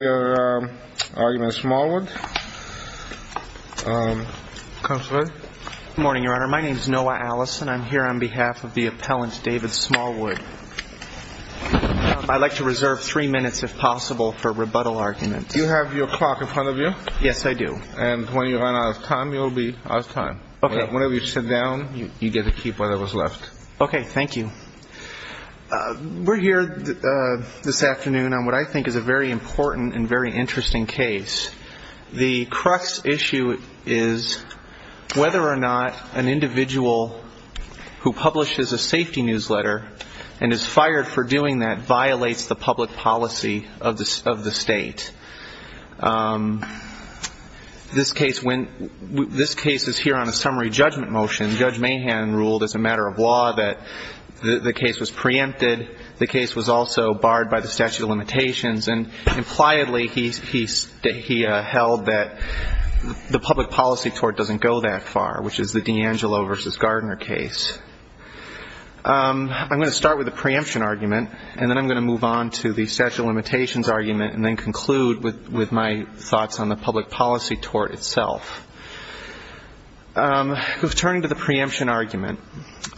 Noah Allison v. Appellant David Smallwood I'd like to reserve three minutes if possible for rebuttal argument. Do you have your clock in front of you? Yes, I do. And when you run out of time, you'll be out of time. Okay. Whenever you sit down, you get to keep whatever is left. Okay, thank you. We're here this afternoon on what I think is a very important and very interesting case. The crux issue is whether or not an individual who publishes a safety newsletter and is fired for doing that violates the public policy of the state. This case is here on a summary judgment motion. Judge Mahan ruled as a matter of law that the case was preempted. The case was also barred by the statute of limitations. And impliedly, he held that the public policy tort doesn't go that far, which is the D'Angelo v. Gardner case. I'm going to start with the preemption argument, and then I'm going to move on to the statute of limitations argument and then conclude with my thoughts on the public policy tort itself. Turning to the preemption argument,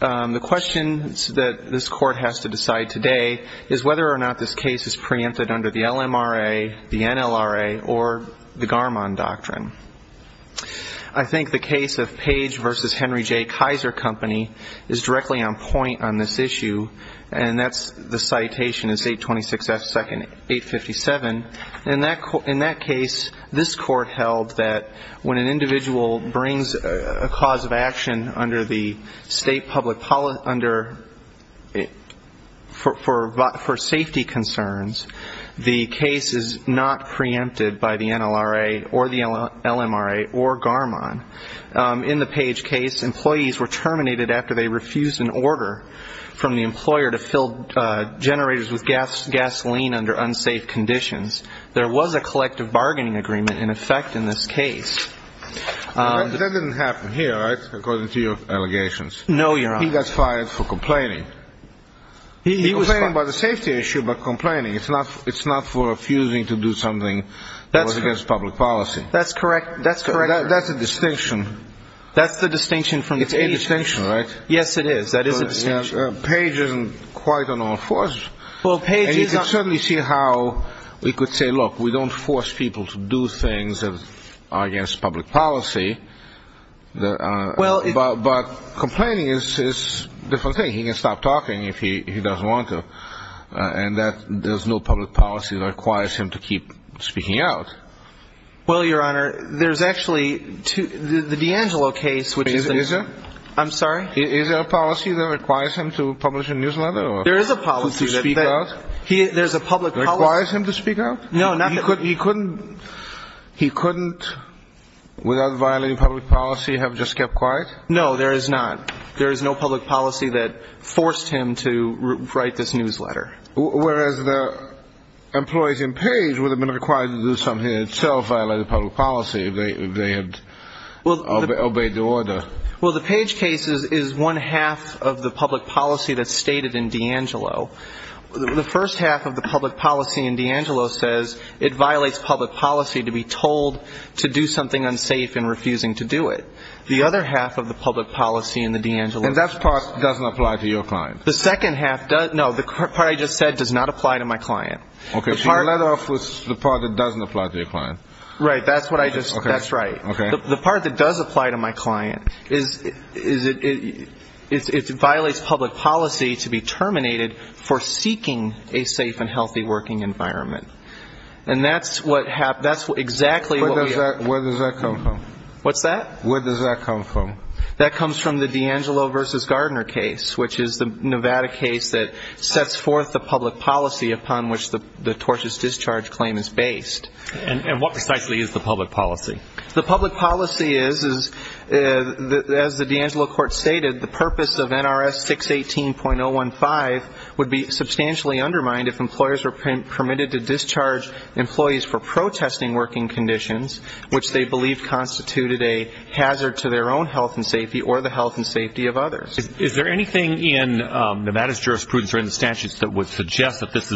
the question that this Court has to decide today is whether or not this case is preempted under the LMRA, the NLRA, or the Garmon Doctrine. I think the case of Page v. Henry J. Kaiser Company is directly on point on this issue, and that's the citation is 826 F. 2nd, 857. In that case, this Court held that when an individual brings a cause of action for safety concerns, the case is not preempted by the NLRA or the LMRA or Garmon. In the Page case, employees were terminated after they refused an order from the employer to fill generators with gasoline under unsafe conditions. There was a collective bargaining agreement in effect in this case. That didn't happen here, right, according to your allegations? No, Your Honor. He got fired for complaining. He was fired. He was complaining about the safety issue, but complaining. It's not for refusing to do something that was against public policy. That's correct. That's a distinction. That's the distinction from the Page case. It's a distinction, right? Yes, it is. That is a distinction. Page isn't quite on all fours. Well, Page is not. I don't really see how we could say, look, we don't force people to do things that are against public policy, but complaining is a different thing. He can stop talking if he doesn't want to, and there's no public policy that requires him to keep speaking out. Well, Your Honor, there's actually the D'Angelo case, which is a – Is there? I'm sorry? Is there a policy that requires him to publish a newsletter or to speak out? There is a policy. Requires him to speak out? No, not that – He couldn't, without violating public policy, have just kept quiet? No, there is not. There is no public policy that forced him to write this newsletter. Whereas the employees in Page would have been required to do something that itself violated public policy if they had obeyed the order. Well, the Page case is one half of the public policy that's stated in D'Angelo. The first half of the public policy in D'Angelo says it violates public policy to be told to do something unsafe and refusing to do it. The other half of the public policy in the D'Angelo case – And that part doesn't apply to your client? The second half – no, the part I just said does not apply to my client. Okay, so you let off with the part that doesn't apply to your client. Right, that's what I just – that's right. Okay. The part that does apply to my client is it violates public policy to be terminated for seeking a safe and healthy working environment. And that's exactly what we – Where does that come from? What's that? Where does that come from? That comes from the D'Angelo v. Gardner case, which is the Nevada case that sets forth the public policy upon which the tortious discharge claim is based. And what precisely is the public policy? The public policy is, as the D'Angelo court stated, the purpose of NRS 618.015 would be substantially undermined if employers were permitted to discharge employees for protesting working conditions which they believed constituted a hazard to their own health and safety or the health and safety of others. Is there anything in Nevada's jurisprudence or in the statutes that would suggest that this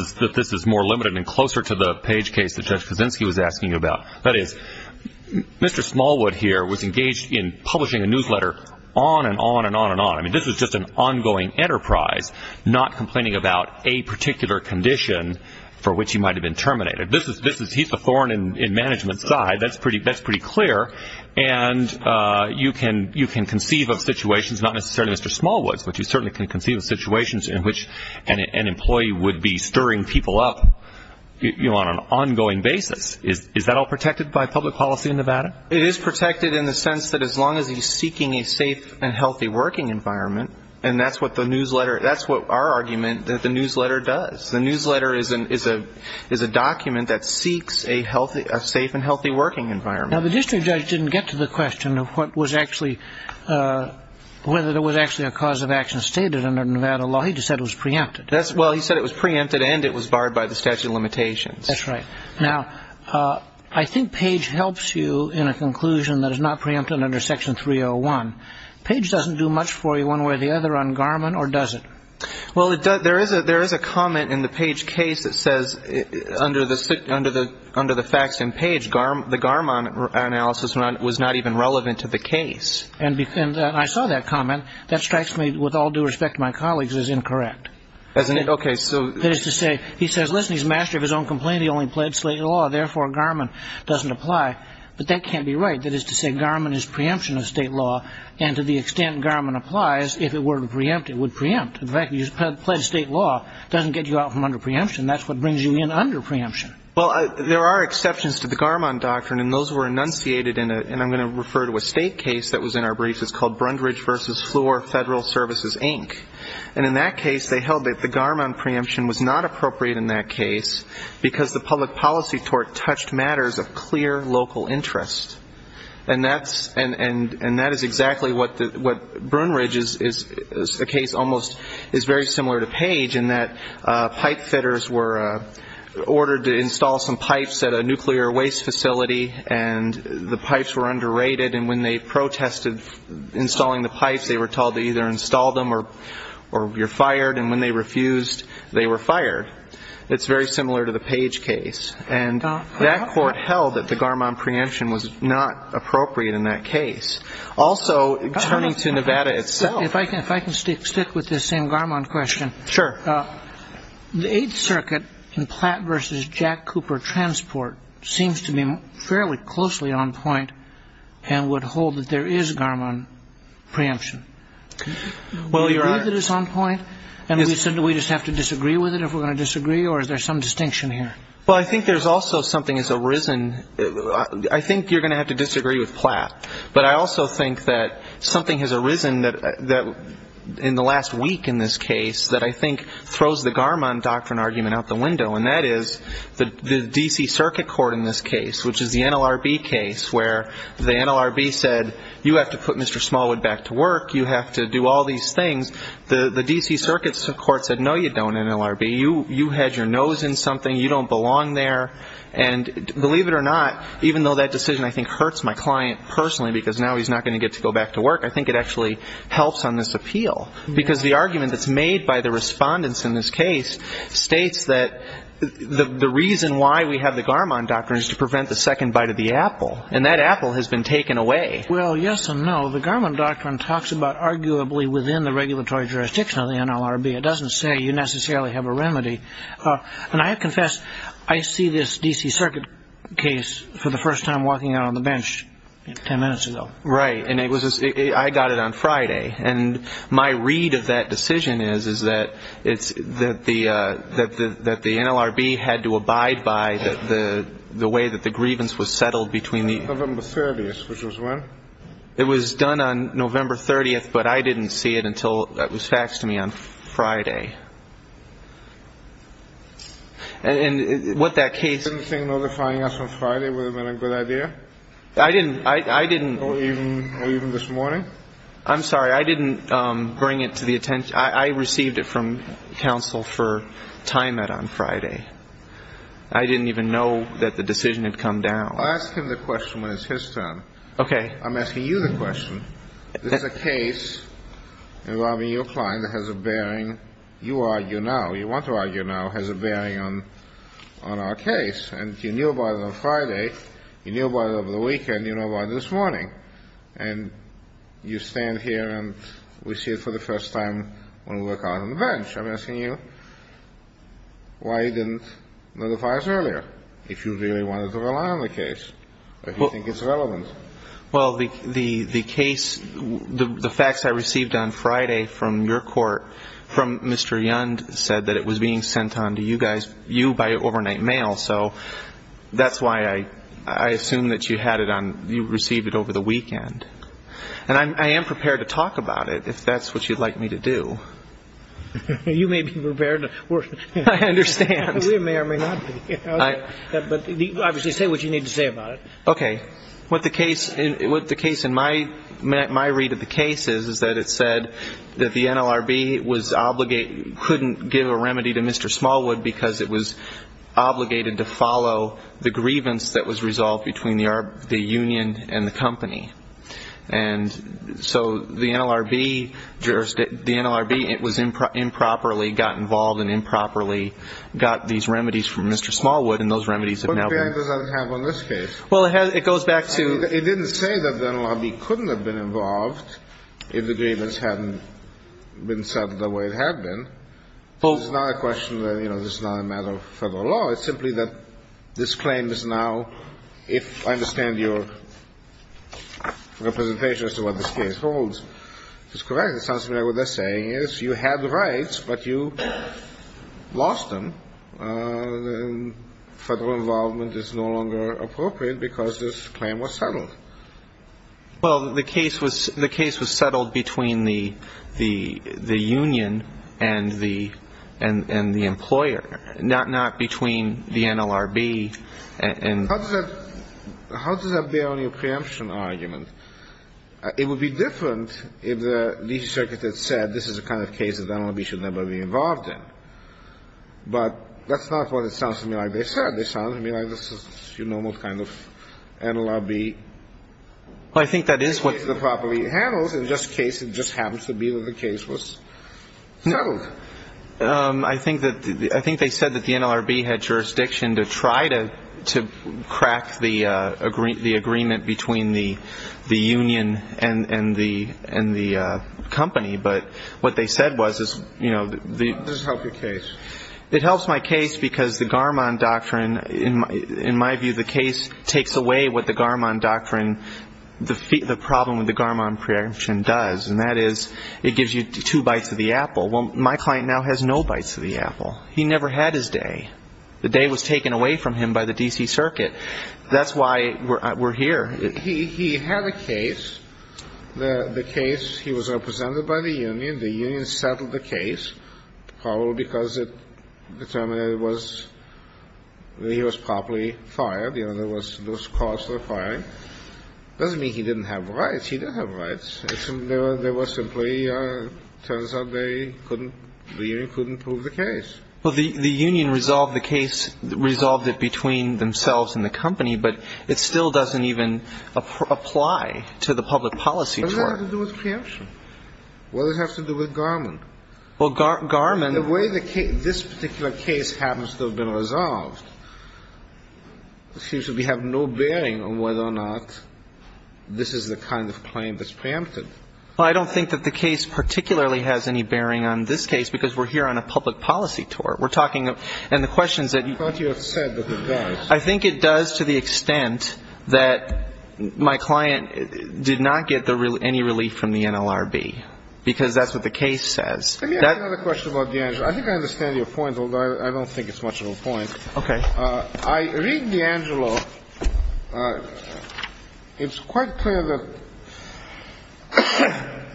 is more limited and closer to the Page case that Judge Kuczynski was asking about? That is, Mr. Smallwood here was engaged in publishing a newsletter on and on and on and on. I mean, this is just an ongoing enterprise, not complaining about a particular condition for which he might have been terminated. He's the foreign and management side. That's pretty clear. And you can conceive of situations, not necessarily Mr. Smallwood's, but you certainly can conceive of situations in which an employee would be stirring people up on an ongoing basis. Is that all protected by public policy in Nevada? It is protected in the sense that as long as he's seeking a safe and healthy working environment, and that's what our argument that the newsletter does. The newsletter is a document that seeks a safe and healthy working environment. Now, the district judge didn't get to the question of whether there was actually a cause of action stated under Nevada law. He just said it was preempted. Well, he said it was preempted and it was barred by the statute of limitations. That's right. Now, I think Page helps you in a conclusion that is not preempted under Section 301. Page doesn't do much for you one way or the other on Garmon, or does it? Well, there is a comment in the Page case that says under the facts in Page, the Garmon analysis was not even relevant to the case. And I saw that comment. That strikes me with all due respect to my colleagues as incorrect. Okay. That is to say, he says, listen, he's a master of his own complaint. He only pledged state law. Therefore, Garmon doesn't apply. But that can't be right. That is to say, Garmon is preemption of state law, and to the extent Garmon applies, if it were to preempt, it would preempt. The fact that you pledged state law doesn't get you out from under preemption. That's what brings you in under preemption. Well, there are exceptions to the Garmon doctrine, and those were enunciated in a, and I'm going to refer to a state case that was in our briefs. It's called Brundridge v. Floor Federal Services, Inc. And in that case, they held that the Garmon preemption was not appropriate in that case because the public policy tort touched matters of clear local interest. And that is exactly what Brundridge is, a case almost is very similar to Page in that pipe fitters were ordered to install some pipes at a nuclear waste facility, and the pipes were underrated. And when they protested installing the pipes, they were told to either install them or you're fired. And when they refused, they were fired. It's very similar to the Page case. And that court held that the Garmon preemption was not appropriate in that case. Also, turning to Nevada itself. If I can stick with this same Garmon question. Sure. The Eighth Circuit in Platt v. Jack Cooper Transport seems to be fairly closely on point and would hold that there is Garmon preemption. Do you agree that it's on point? And do we just have to disagree with it if we're going to disagree, or is there some distinction here? Well, I think there's also something that's arisen. I think you're going to have to disagree with Platt. But I also think that something has arisen in the last week in this case that I think throws the Garmon doctrine argument out the window, and that is the D.C. Circuit Court in this case, which is the NLRB case, where the NLRB said you have to put Mr. Smallwood back to work, you have to do all these things. The D.C. Circuit Court said, no, you don't, NLRB. You had your nose in something, you don't belong there. And believe it or not, even though that decision I think hurts my client personally because now he's not going to get to go back to work, I think it actually helps on this appeal. Because the argument that's made by the respondents in this case states that the reason why we have the Garmon doctrine is to prevent the second bite of the apple, and that apple has been taken away. Well, yes and no. The Garmon doctrine talks about arguably within the regulatory jurisdiction of the NLRB. It doesn't say you necessarily have a remedy. And I confess I see this D.C. Circuit case for the first time walking out on the bench 10 minutes ago. Right. And I got it on Friday. And my read of that decision is that the NLRB had to abide by the way that the grievance was settled between the ---- November 30th, which was when? It was done on November 30th, but I didn't see it until it was faxed to me on Friday. And what that case ---- Do you think notifying us on Friday would have been a good idea? I didn't. Or even this morning? I'm sorry. I didn't bring it to the attention. I received it from counsel for timeout on Friday. I didn't even know that the decision had come down. I'll ask him the question when it's his turn. Okay. I'm asking you the question. This is a case involving your client that has a bearing, you argue now, you want to argue now, has a bearing on our case. And you knew about it on Friday. You knew about it over the weekend. You knew about it this morning. And you stand here and we see it for the first time when we walk out on the bench. I'm asking you why you didn't notify us earlier if you really wanted to rely on the case, if you think it's relevant. Well, the case, the fax I received on Friday from your court from Mr. Yound said that it was being sent on to you guys, you, by overnight mail. So that's why I assume that you had it on, you received it over the weekend. And I am prepared to talk about it if that's what you'd like me to do. You may be prepared. I understand. We may or may not be. But obviously say what you need to say about it. Okay. What the case, what the case in my read of the case is, is that it said that the NLRB was obligated, couldn't give a remedy to Mr. Smallwood because it was obligated to follow the grievance that was resolved between the union and the company. And so the NLRB, the NLRB, it was improperly got involved and improperly got these remedies from Mr. Smallwood and those remedies have now been. What impact does that have on this case? Well, it goes back to. It didn't say that the NLRB couldn't have been involved if the grievance hadn't been settled the way it had been. It's not a question that, you know, this is not a matter of federal law. It's simply that this claim is now, if I understand your representation as to what this case holds, it's correct. It sounds to me like what they're saying is you had the rights, but you lost them. Federal involvement is no longer appropriate because this claim was settled. Well, the case was, the case was settled between the union and the employer, not between the NLRB and. How does that, how does that bear on your preemption argument? It would be different if the legal circuit had said this is the kind of case that the NLRB should never be involved in. But that's not what it sounds to me like they said. They sounded to me like this is the normal kind of NLRB. Well, I think that is what. In this case, it just happens to be that the case was settled. I think that, I think they said that the NLRB had jurisdiction to try to crack the agreement between the union and the company. But what they said was, you know. How does this help your case? It helps my case because the Garmon Doctrine, in my view, the case takes away what the Garmon Doctrine, the problem with the Garmon Preemption does. And that is it gives you two bites of the apple. Well, my client now has no bites of the apple. He never had his day. The day was taken away from him by the D.C. Circuit. That's why we're here. He had a case. The case, he was represented by the union. The union settled the case, probably because it determined that it was, that he was properly fired. You know, there was, there was cause for firing. Doesn't mean he didn't have rights. He did have rights. There was simply, turns out they couldn't, the union couldn't prove the case. Well, the union resolved the case, resolved it between themselves and the company. But it still doesn't even apply to the public policy tort. What does that have to do with preemption? What does it have to do with Garmon? Well, Garmon. The way the case, this particular case happens to have been resolved, it seems that we have no bearing on whether or not this is the kind of claim that's preempted. Well, I don't think that the case particularly has any bearing on this case, because we're here on a public policy tort. We're talking, and the questions that you. I thought you had said that it does. I think it does to the extent that my client did not get any relief from the NLRB, because that's what the case says. Let me ask another question about D'Angelo. I think I understand your point, although I don't think it's much of a point. Okay. I read D'Angelo. It's quite clear that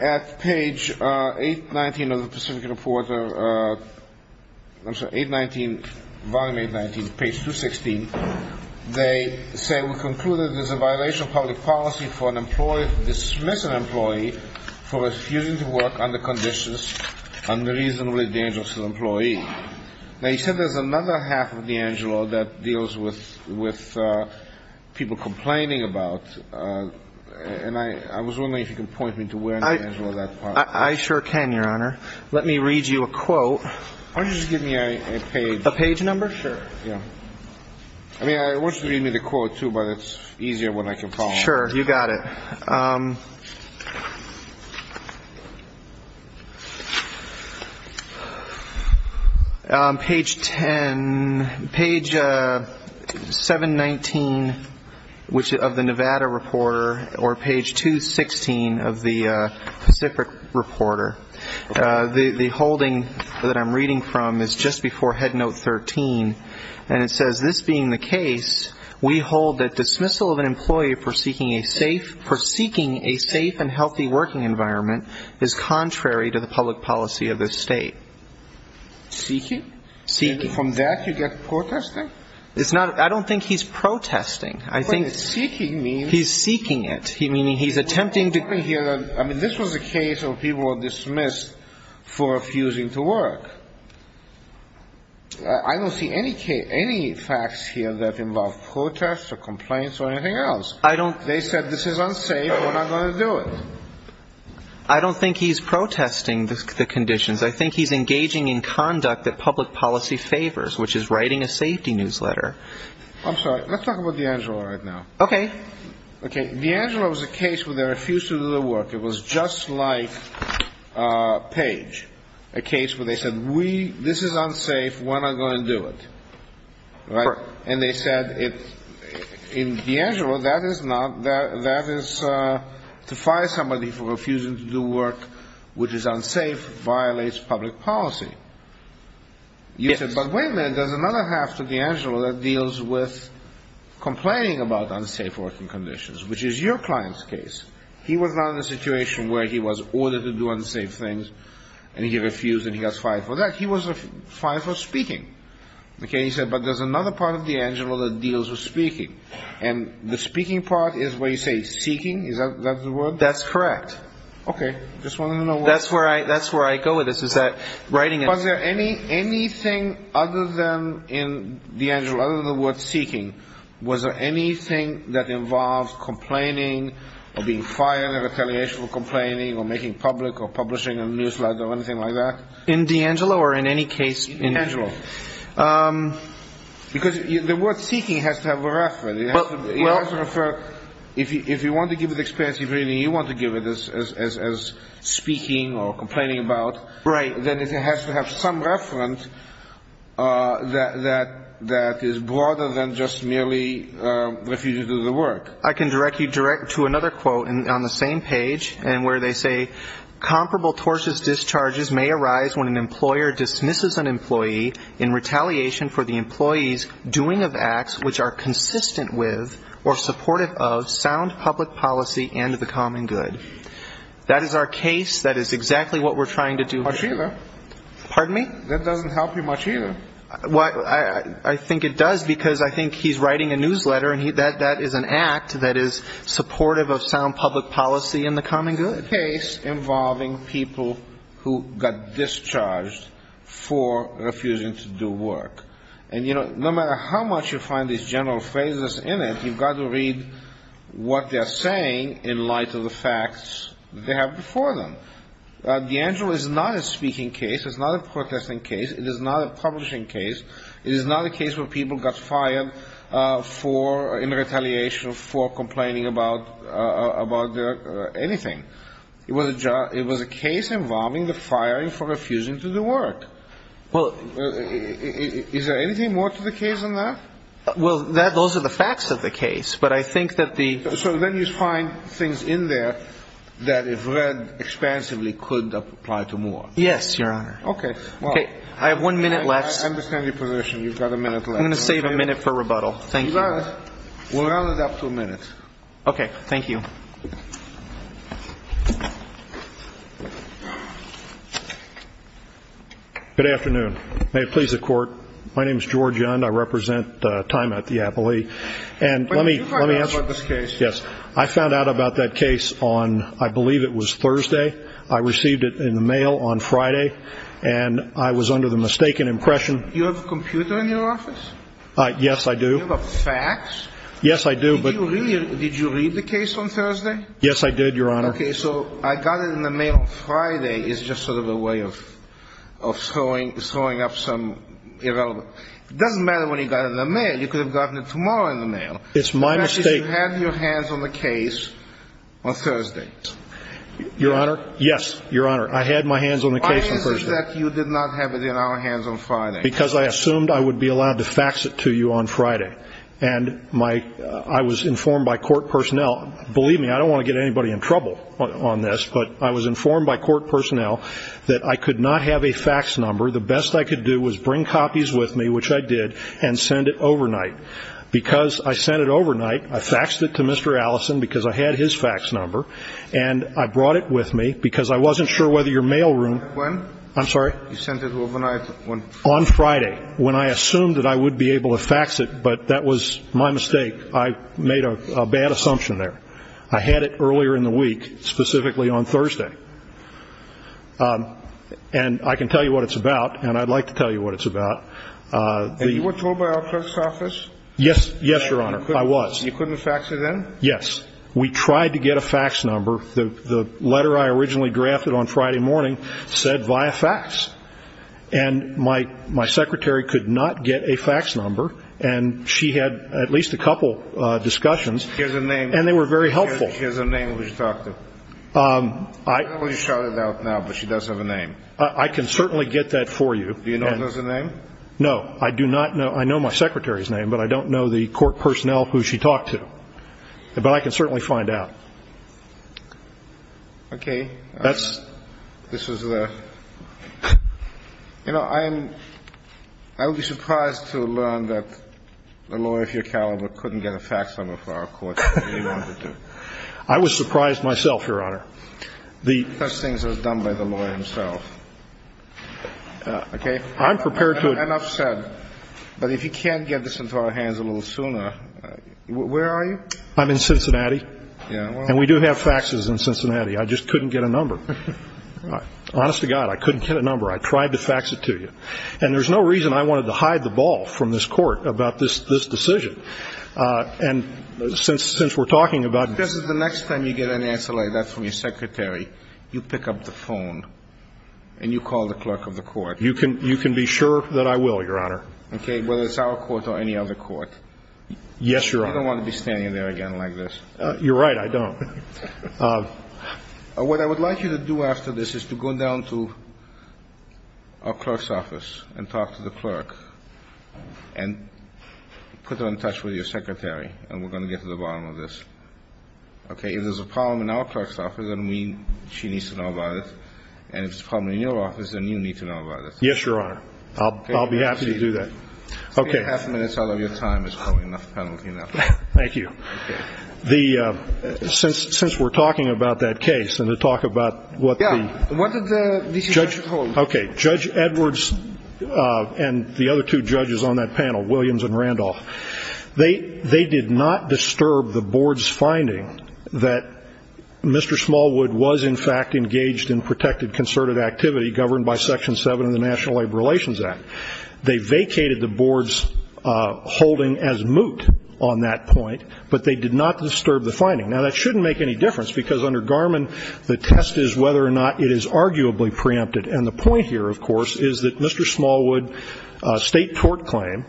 at page 819 of the Pacific Report, I'm sorry, 819, volume 819, page 216, they say, We conclude that it is a violation of public policy for an employee to dismiss an employee for refusing to work under conditions unreasonably dangerous to the employee. Now, you said there's another half of D'Angelo that deals with people complaining about. And I was wondering if you could point me to where in D'Angelo that part is. I sure can, Your Honor. Let me read you a quote. Why don't you just give me a page? A page number? Sure. Yeah. I mean, I want you to read me the quote, too, but it's easier when I can follow. Sure. You got it. All right. Page 10, page 719 of the Nevada Reporter, or page 216 of the Pacific Reporter. The holding that I'm reading from is just before Head Note 13, and it says, We hold that dismissal of an employee for seeking a safe and healthy working environment is contrary to the public policy of this State. Seeking? Seeking. And from that you get protesting? I don't think he's protesting. I think he's seeking it, meaning he's attempting to. I mean, this was a case where people were dismissed for refusing to work. I don't see any facts here that involve protests or complaints or anything else. I don't. They said this is unsafe and we're not going to do it. I don't think he's protesting the conditions. I think he's engaging in conduct that public policy favors, which is writing a safety newsletter. I'm sorry. Let's talk about DeAngelo right now. Okay. Okay. DeAngelo was a case where they refused to do the work. It was just like Page, a case where they said this is unsafe, we're not going to do it. Correct. And they said in DeAngelo that is to fire somebody for refusing to do work, which is unsafe, violates public policy. Yes. But wait a minute. There's another half to DeAngelo that deals with complaining about unsafe working conditions, which is your client's case. He was not in a situation where he was ordered to do unsafe things and he refused and he got fired for that. He was fired for speaking. Okay. He said, but there's another part of DeAngelo that deals with speaking. And the speaking part is where you say seeking. Is that the word? That's correct. Okay. Just wanted to know. That's where I go with this, is that writing. Was there anything other than in DeAngelo, other than the word seeking, was there anything that involved complaining or being fired or retaliation for complaining or making public or publishing a newsletter or anything like that? In DeAngelo or in any case? In DeAngelo. Because the word seeking has to have a reference. If you want to give it experience, if really you want to give it as speaking or complaining about, then it has to have some reference that is broader than just merely refusing to do the work. I can direct you to another quote on the same page where they say, Comparable tortious discharges may arise when an employer dismisses an employee in retaliation for the employee's doing of acts which are consistent with or supportive of sound public policy and the common good. That is our case. That is exactly what we're trying to do here. Much either. Pardon me? That doesn't help you much either. I think it does because I think he's writing a newsletter and that is an act that is supportive of sound public policy and the common good. A case involving people who got discharged for refusing to do work. And, you know, no matter how much you find these general phrases in it, you've got to read what they're saying in light of the facts they have before them. D'Angelo is not a speaking case. It's not a protesting case. It is not a publishing case. It is not a case where people got fired in retaliation for complaining about anything. It was a case involving the firing for refusing to do work. Is there anything more to the case than that? Well, those are the facts of the case. But I think that the So then you find things in there that, if read expansively, could apply to Moore. Yes, Your Honor. Okay. I have one minute left. I understand your position. You've got a minute left. I'm going to save a minute for rebuttal. Thank you. You got it. We'll round it up to a minute. Okay. Thank you. Good afternoon. May it please the Court. My name is George Yund. I represent Tyma at the Appley. And let me You found out about this case. Yes. I found out about that case on, I believe it was Thursday. I received it in the mail on Friday. And I was under the mistaken impression You have a computer in your office? Yes, I do. You have a fax? Yes, I do. Did you read the case on Thursday? Yes, I did, Your Honor. Okay. So I got it in the mail on Friday. It's just sort of a way of throwing up some irrelevant It doesn't matter when you got it in the mail. You could have gotten it tomorrow in the mail. It's my mistake. That is, you had your hands on the case on Thursday. Your Honor, yes, Your Honor, I had my hands on the case on Thursday. Why is it that you did not have it in our hands on Friday? Because I assumed I would be allowed to fax it to you on Friday. And I was informed by court personnel. Believe me, I don't want to get anybody in trouble on this, but I was informed by court personnel that I could not have a fax number. The best I could do was bring copies with me, which I did, and send it overnight. Because I sent it overnight, I faxed it to Mr. Allison because I had his fax number, and I brought it with me because I wasn't sure whether your mail room When? I'm sorry? You sent it overnight when? On Friday, when I assumed that I would be able to fax it, but that was my mistake. I made a bad assumption there. I had it earlier in the week, specifically on Thursday. And I can tell you what it's about, and I'd like to tell you what it's about. And you were told by our clerk's office? Yes, Your Honor. I was. You couldn't fax it in? Yes. We tried to get a fax number. The letter I originally drafted on Friday morning said via fax. And my secretary could not get a fax number, and she had at least a couple discussions. Here's a name. And they were very helpful. Here's a name we should talk to. I don't know who you're shouting out now, but she does have a name. I can certainly get that for you. Do you know who has a name? No. I do not know. I know my secretary's name, but I don't know the court personnel who she talked to. But I can certainly find out. Okay. That's This is a You know, I am I would be surprised to learn that a lawyer of your caliber couldn't get a fax number for our court. I was surprised myself. Your Honor. Such things are done by the lawyer himself. Okay. I'm prepared to Enough said. But if you can't get this into our hands a little sooner, where are you? I'm in Cincinnati. And we do have faxes in Cincinnati. I just couldn't get a number. Honest to God, I couldn't get a number. I tried to fax it to you. And there's no reason I wanted to hide the ball from this Court about this decision. And since we're talking about This is the next time you get an answer like that from your secretary, you pick up the phone and you call the clerk of the court. You can be sure that I will, Your Honor. Okay. Whether it's our court or any other court. Yes, Your Honor. I don't want to be standing there again like this. You're right. I don't. What I would like you to do after this is to go down to our clerk's office and talk to the clerk and put her in touch with your secretary. And we're going to get to the bottom of this. Okay. If there's a problem in our clerk's office, then she needs to know about it. And if there's a problem in your office, then you need to know about it. Yes, Your Honor. I'll be happy to do that. Okay. Three and a half minutes out of your time is probably enough penalty now. Thank you. Okay. Since we're talking about that case and to talk about what the Yeah. What did the D.C. judge hold? Okay. Judge Edwards and the other two judges on that panel, Williams and Randolph, they did not disturb the board's finding that Mr. Smallwood was, in fact, engaged in protected concerted activity governed by Section 7 of the National Labor Relations Act. They vacated the board's holding as moot on that point, but they did not disturb the finding. Now, that shouldn't make any difference because under Garmon, the test is whether or not it is arguably preempted. And the point here, of course, is that Mr. Smallwood's state tort claim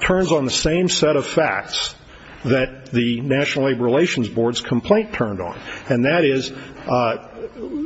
turns on the same set of facts that the National Labor Relations Board's complaint turned on, and that is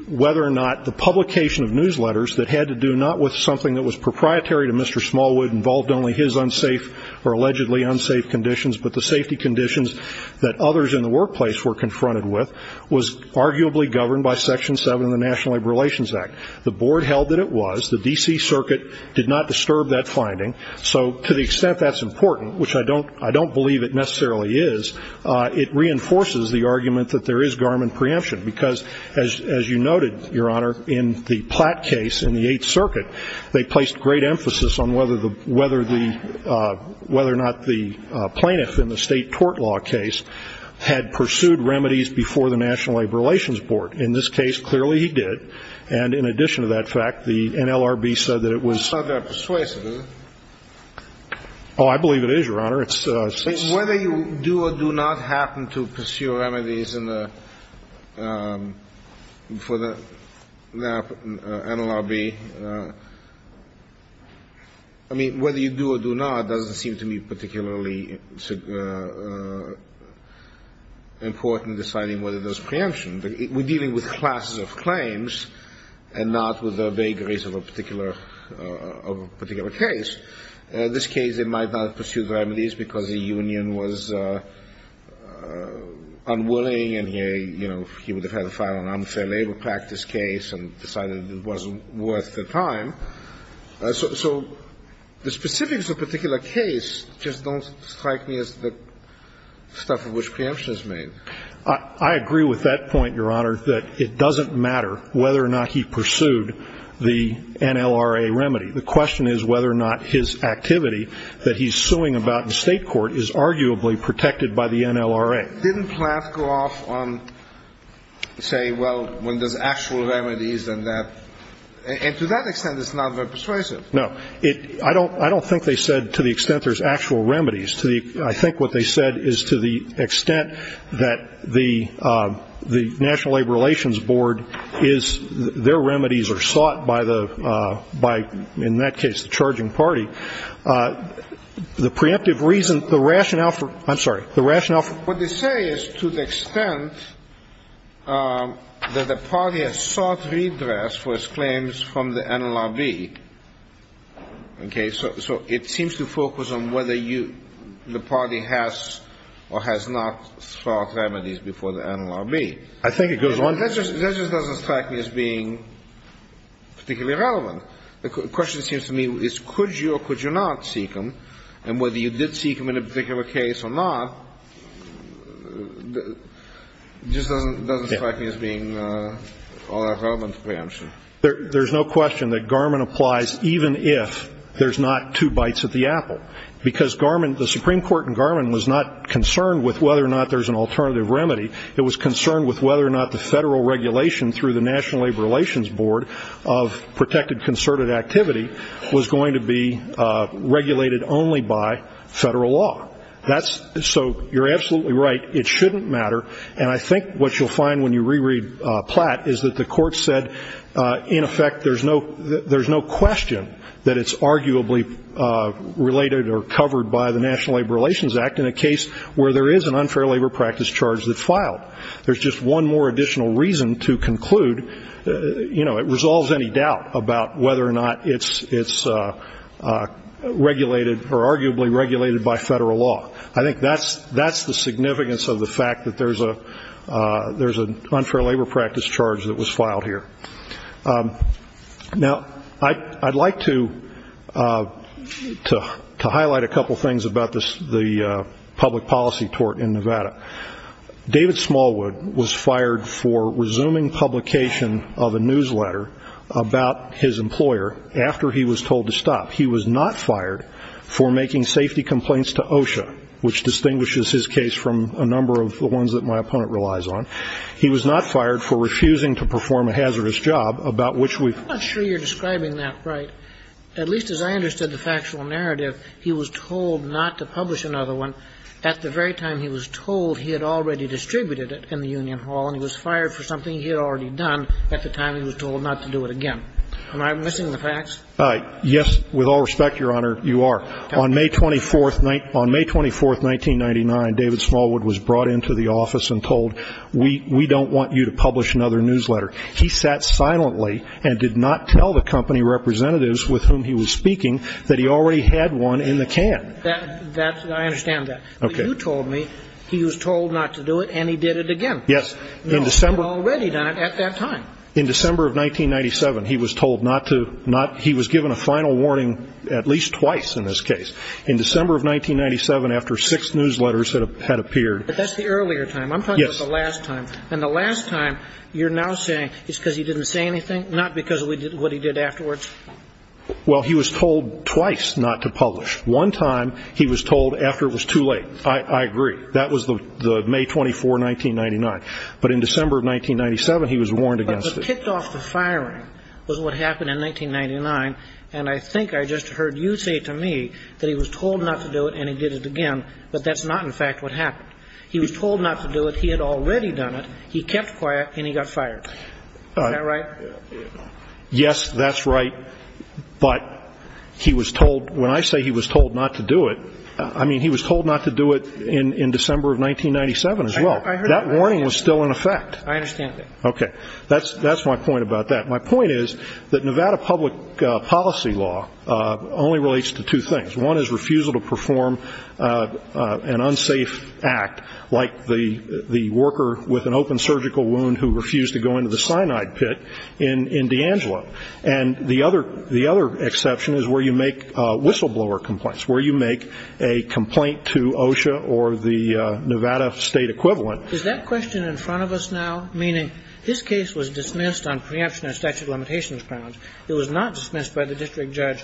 whether or not the publication of newsletters that had to do not with something that was proprietary to Mr. Smallwood, involved only his unsafe or allegedly unsafe conditions, but the safety conditions that others in the workplace were confronted with, was arguably governed by Section 7 of the National Labor Relations Act. The board held that it was. The D.C. Circuit did not disturb that finding. So to the extent that's important, which I don't believe it necessarily is, it reinforces the argument that there is Garmon preemption, because as you noted, Your Honor, in the Platt case in the Eighth Circuit, they placed great emphasis on whether or not the plaintiff in the state tort law case had pursued remedies before the National Labor Relations Board. In this case, clearly he did. And in addition to that fact, the NLRB said that it was. It's not that persuasive, is it? Oh, I believe it is, Your Honor. Whether you do or do not happen to pursue remedies for the NLRB, I mean, whether you do or do not doesn't seem to me particularly important in deciding whether there's preemption. We're dealing with classes of claims and not with vagaries of a particular case. In this case, they might not have pursued remedies because the union was unwilling and he would have had a file on unfair labor practice case and decided it wasn't worth the time. So the specifics of a particular case just don't strike me as the stuff of which preemption is made. I agree with that point, Your Honor, that it doesn't matter whether or not he pursued the NLRA remedy. The question is whether or not his activity that he's suing about in state court is arguably protected by the NLRA. Didn't Platt go off on, say, well, when there's actual remedies and that? And to that extent, it's not very persuasive. No. I don't think they said to the extent there's actual remedies. I think what they said is to the extent that the National Labor Relations Board is, their remedies are sought by the by, in that case, the charging party. The preemptive reason, the rationale for, I'm sorry, the rationale for. What they say is to the extent that the party has sought redress for its claims from the NLRB. Okay. So it seems to focus on whether you, the party has or has not sought remedies before the NLRB. I think it goes on. That just doesn't strike me as being particularly relevant. The question, it seems to me, is could you or could you not seek them? And whether you did seek them in a particular case or not just doesn't strike me as being all that relevant to preemption. There's no question that Garmin applies even if there's not two bites at the apple, because the Supreme Court in Garmin was not concerned with whether or not there's an alternative remedy. It was concerned with whether or not the federal regulation through the National Labor Relations Board of protected concerted activity was going to be regulated only by federal law. So you're absolutely right. It shouldn't matter. And I think what you'll find when you reread Platt is that the court said, in effect, there's no question that it's arguably related or covered by the National Labor Relations Act in a case where there is an unfair labor practice charge that's filed. There's just one more additional reason to conclude, you know, it resolves any doubt about whether or not it's regulated or arguably regulated by federal law. I think that's the significance of the fact that there's an unfair labor practice charge that was filed here. Now, I'd like to highlight a couple things about the public policy tort in Nevada. David Smallwood was fired for resuming publication of a newsletter about his employer after he was told to stop. He was not fired for making safety complaints to OSHA, which distinguishes his case from a number of the ones that my opponent relies on. He was not fired for refusing to perform a hazardous job about which we've been. I'm not sure you're describing that right. At least as I understood the factual narrative, he was told not to publish another one at the very time he was told he had already distributed it in the Union Hall and he was fired for something he had already done at the time he was told not to do it again. Am I missing the facts? Yes, with all respect, Your Honor, you are. On May 24, 1999, David Smallwood was brought into the office and told, we don't want you to publish another newsletter. He sat silently and did not tell the company representatives with whom he was speaking that he already had one in the can. I understand that. Okay. But you told me he was told not to do it and he did it again. Yes. He had already done it at that time. In December of 1997, he was told not to. He was given a final warning at least twice in this case. In December of 1997, after six newsletters had appeared. But that's the earlier time. I'm talking about the last time. Yes. And the last time, you're now saying it's because he didn't say anything, not because of what he did afterwards? Well, he was told twice not to publish. One time, he was told after it was too late. I agree. That was May 24, 1999. But in December of 1997, he was warned against it. But kicked off the firing was what happened in 1999. And I think I just heard you say to me that he was told not to do it and he did it again. But that's not, in fact, what happened. He was told not to do it. He had already done it. He kept quiet and he got fired. Is that right? Yes, that's right. But he was told ñ when I say he was told not to do it, I mean, he was told not to do it in December of 1997 as well. That warning was still in effect. I understand that. Okay. That's my point about that. My point is that Nevada public policy law only relates to two things. One is refusal to perform an unsafe act, like the worker with an open surgical wound who refused to go into the cyanide pit in D'Angelo. And the other exception is where you make whistleblower complaints, where you make a complaint to OSHA or the Nevada state equivalent. Is that question in front of us now? Meaning his case was dismissed on preemption of statute of limitations grounds. It was not dismissed by the district judge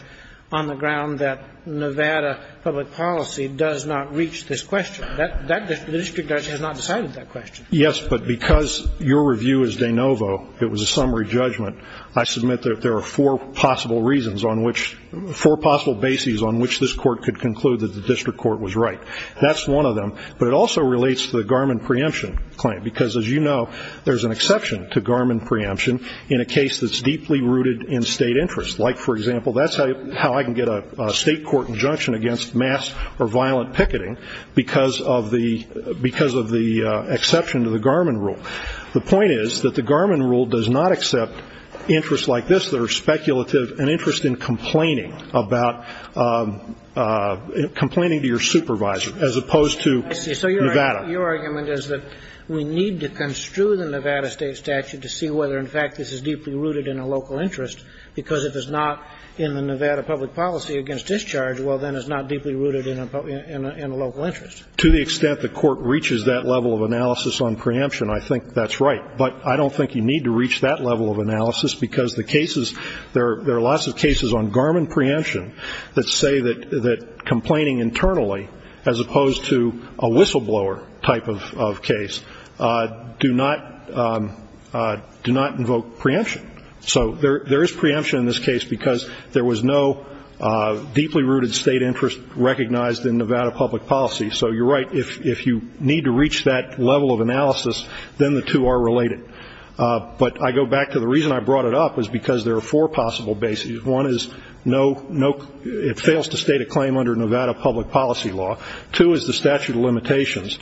on the ground that Nevada public policy does not reach this question. The district judge has not decided that question. Yes, but because your review is de novo, it was a summary judgment, I submit that there are four possible reasons on which ñ four possible bases on which this court could conclude that the district court was right. That's one of them. But it also relates to the Garmin preemption claim because, as you know, there's an exception to Garmin preemption in a case that's deeply rooted in state interest. Like, for example, that's how I can get a state court injunction against mass or violent picketing because of the exception to the Garmin rule. The point is that the Garmin rule does not accept interests like this that are speculative and interest in complaining about ñ complaining to your supervisor as opposed to Nevada. So your argument is that we need to construe the Nevada state statute to see whether in fact this is deeply rooted in a local interest because if it's not in the Nevada public policy against discharge, well, then it's not deeply rooted in a local interest. To the extent the court reaches that level of analysis on preemption, I think that's right. But I don't think you need to reach that level of analysis because the cases ñ there are lots of cases on Garmin preemption that say that complaining internally, as opposed to a whistleblower type of case, do not ñ do not invoke preemption. So there is preemption in this case because there was no deeply rooted state interest recognized in Nevada public policy. So you're right. If you need to reach that level of analysis, then the two are related. But I go back to the reason I brought it up is because there are four possible bases. One is no ñ it fails to state a claim under Nevada public policy law. Two is the statute of limitations.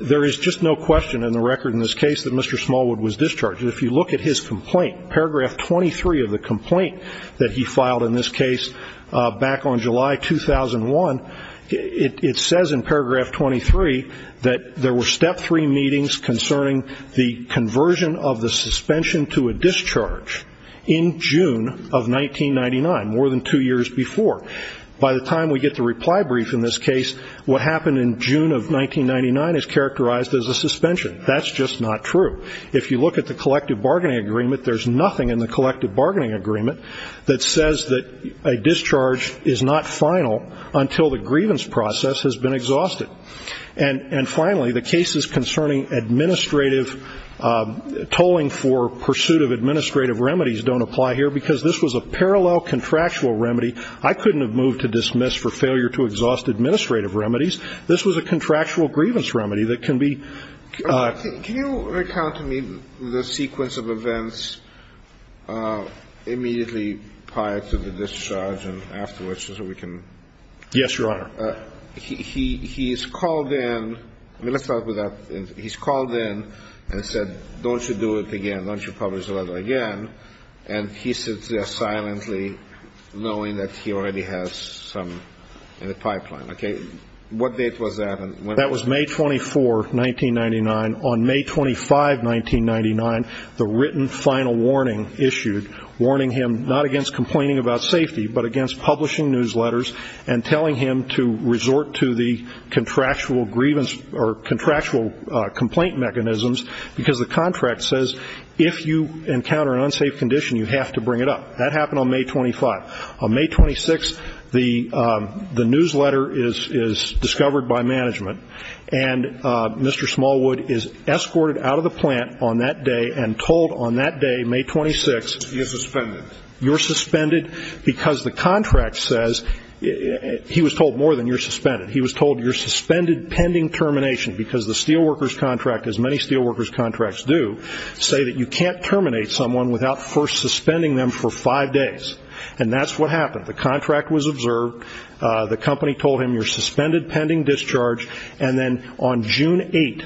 There is just no question in the record in this case that Mr. Smallwood was discharged. If you look at his complaint, paragraph 23 of the complaint that he filed in this case back on July 2001, it says in paragraph 23 that there were step three meetings concerning the conversion of the suspension to a discharge in June of 1999, more than two years before. By the time we get the reply brief in this case, what happened in June of 1999 is characterized as a suspension. That's just not true. If you look at the collective bargaining agreement, there's nothing in the collective bargaining agreement that says that a discharge is not final until the grievance process has been exhausted. And finally, the cases concerning administrative ñ tolling for pursuit of administrative remedies don't apply here because this was a parallel contractual remedy. I couldn't have moved to dismiss for failure to exhaust administrative remedies. This was a contractual grievance remedy that can be ñ Can you recount to me the sequence of events immediately prior to the discharge and afterwards so we can ñ Yes, Your Honor. He's called in ñ let's start with that. He's called in and said, don't you do it again. Don't you publish the letter again. And he sits there silently knowing that he already has some in the pipeline. Okay. What date was that? That was May 24, 1999. On May 25, 1999, the written final warning issued, warning him not against complaining about safety but against publishing newsletters and telling him to resort to the contractual grievance or contractual complaint mechanisms because the contract says if you encounter an unsafe condition, you have to bring it up. That happened on May 25. On May 26, the newsletter is discovered by management, and Mr. Smallwood is escorted out of the plant on that day and told on that day, May 26 ñ You're suspended. You're suspended because the contract says ñ he was told more than you're suspended. He was told you're suspended pending termination because the steelworkers contract, as many steelworkers contracts do, say that you can't terminate someone without first suspending them for five days. And that's what happened. The contract was observed. The company told him you're suspended pending discharge. And then on June 8,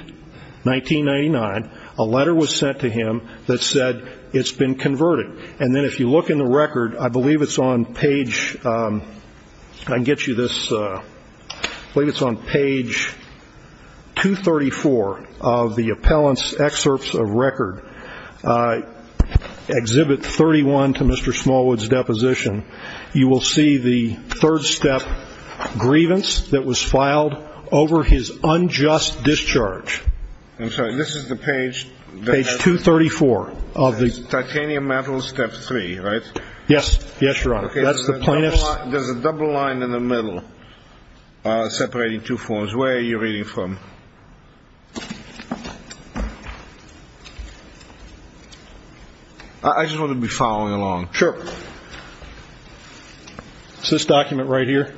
1999, a letter was sent to him that said it's been converted. And then if you look in the record, I believe it's on page ñ I can get you this. I believe it's on page 234 of the appellant's excerpts of record, Exhibit 31 to Mr. Smallwood's deposition. You will see the third-step grievance that was filed over his unjust discharge. I'm sorry. This is the page ñ Page 234 of the ñ Titanium metals, Step 3, right? Yes, Your Honor. That's the plaintiff's ñ There's a double line in the middle separating two forms. Where are you reading from? I just want to be following along. Sure. It's this document right here,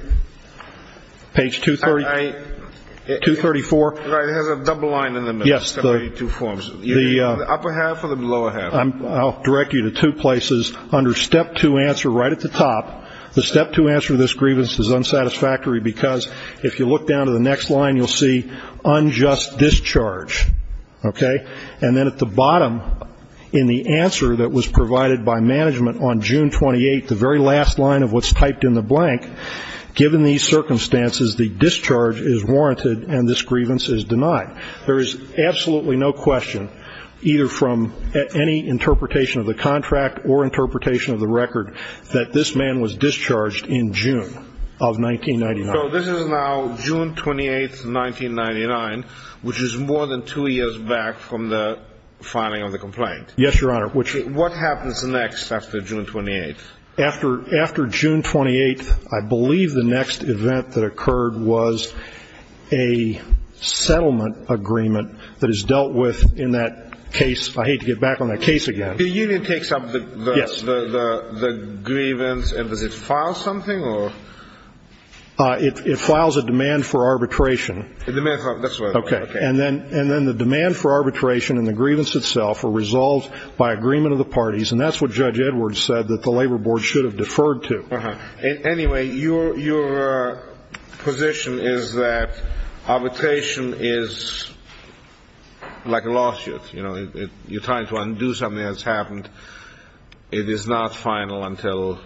page 234. Right, it has a double line in the middle separating two forms. The upper half or the lower half? I'll direct you to two places. Under Step 2 answer right at the top, the Step 2 answer to this grievance is unsatisfactory because if you look down to the next line, you'll see unjust discharge, okay? And then at the bottom in the answer that was provided by management on June 28, the very last line of what's typed in the blank, given these circumstances the discharge is warranted and this grievance is denied. There is absolutely no question either from any interpretation of the contract or interpretation of the record that this man was discharged in June of 1999. So this is now June 28, 1999, which is more than two years back from the filing of the complaint. Yes, Your Honor. What happens next after June 28? After June 28, I believe the next event that occurred was a settlement agreement that is dealt with in that case. I hate to get back on that case again. The union takes up the grievance and does it file something or? It files a demand for arbitration. A demand for arbitration, that's right. Okay. And then the demand for arbitration and the grievance itself are resolved by agreement of the parties, and that's what Judge Edwards said that the labor board should have deferred to. Anyway, your position is that arbitration is like a lawsuit. You're trying to undo something that's happened. It is not final until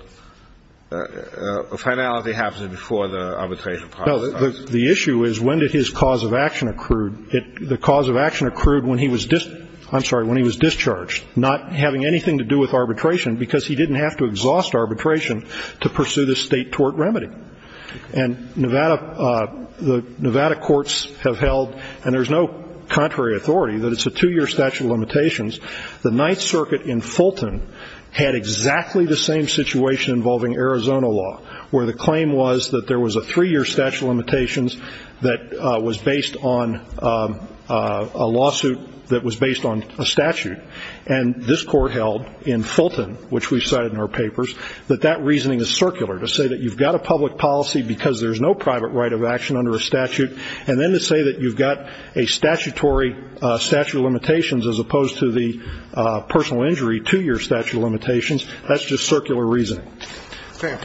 a finality happens before the arbitration process. No. The issue is when did his cause of action accrued? The cause of action accrued when he was discharged, not having anything to do with arbitration, because he didn't have to exhaust arbitration to pursue this state tort remedy. And the Nevada courts have held, and there's no contrary authority, that it's a two-year statute of limitations. The Ninth Circuit in Fulton had exactly the same situation involving Arizona law, where the claim was that there was a three-year statute of limitations that was based on a lawsuit that was based on a statute. And this court held in Fulton, which we cited in our papers, that that reasoning is circular, to say that you've got a public policy because there's no private right of action under a statute, and then to say that you've got a statutory statute of limitations as opposed to the personal injury two-year statute of limitations. That's just circular reasoning. Okay.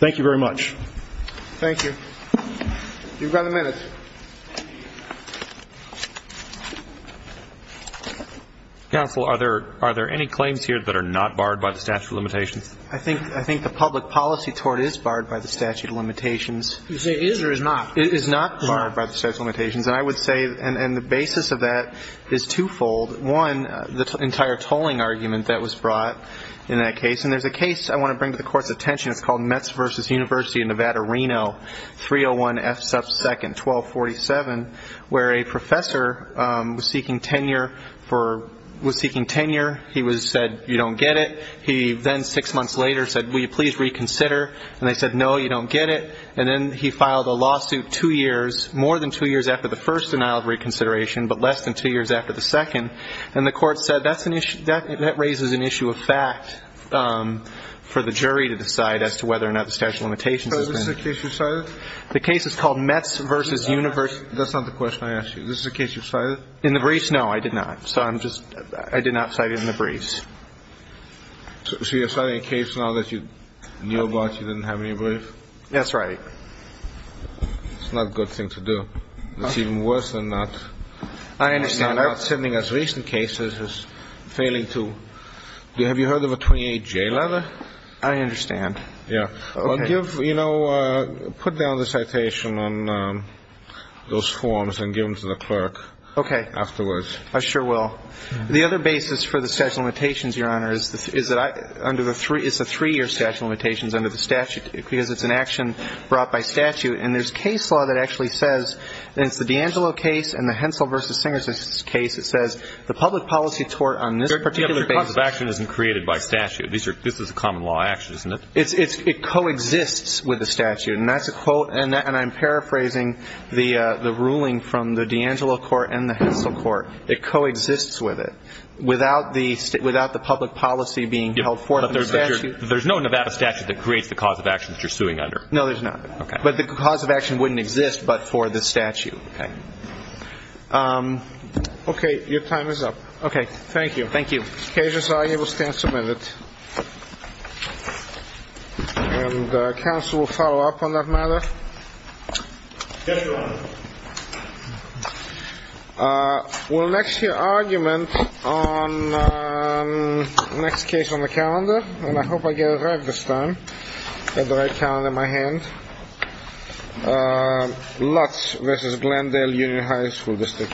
Thank you very much. Thank you. You've got a minute. Counsel, are there any claims here that are not barred by the statute of limitations? I think the public policy tort is barred by the statute of limitations. You say is or is not? It is not barred by the statute of limitations. And I would say, and the basis of that is twofold. One, the entire tolling argument that was brought in that case. And there's a case I want to bring to the Court's attention. It's called Metz v. University of Nevada, Reno, 301F sub 2nd, 1247, where a professor was seeking tenure. He said, you don't get it. He then, six months later, said, will you please reconsider? And they said, no, you don't get it. And then he filed a lawsuit two years, more than two years after the first denial of reconsideration, but less than two years after the second. And the court said that's an issue, that raises an issue of fact for the jury to decide as to whether or not the statute of limitations. Is this the case you cited? The case is called Metz v. University. That's not the question I asked you. Is this the case you cited? In the briefs, no, I did not. So I'm just, I did not cite it in the briefs. So you're citing a case now that you knew about, you didn't have any brief? That's right. It's not a good thing to do. It's even worse than not. I understand. I'm not sending as recent cases as failing to. Have you heard of a 28-J letter? I understand. Yeah. Well, give, you know, put down the citation on those forms and give them to the clerk. Okay. Afterwards. I sure will. The other basis for the statute of limitations, Your Honor, is that under the three, it's a three-year statute of limitations under the statute because it's an action brought by statute. And there's case law that actually says, and it's the DeAngelo case and the Hensel v. Singers case, it says the public policy tort on this particular basis. Yeah, but the cause of action isn't created by statute. This is a common law action, isn't it? It coexists with the statute, and that's a quote, and I'm paraphrasing the ruling from the DeAngelo court and the Hensel court. It coexists with it without the public policy being held forth in the statute. But there's no Nevada statute that creates the cause of action that you're suing under. No, there's not. Okay. But the cause of action wouldn't exist but for the statute. Okay. Okay. Your time is up. Okay. Thank you. Thank you. Cases are able to stand submitted. And counsel will follow up on that matter. Yes, Your Honor. We'll next hear argument on the next case on the calendar, and I hope I get it right this time. I have the right calendar in my hand. Lutz v. Glendale Union High School District.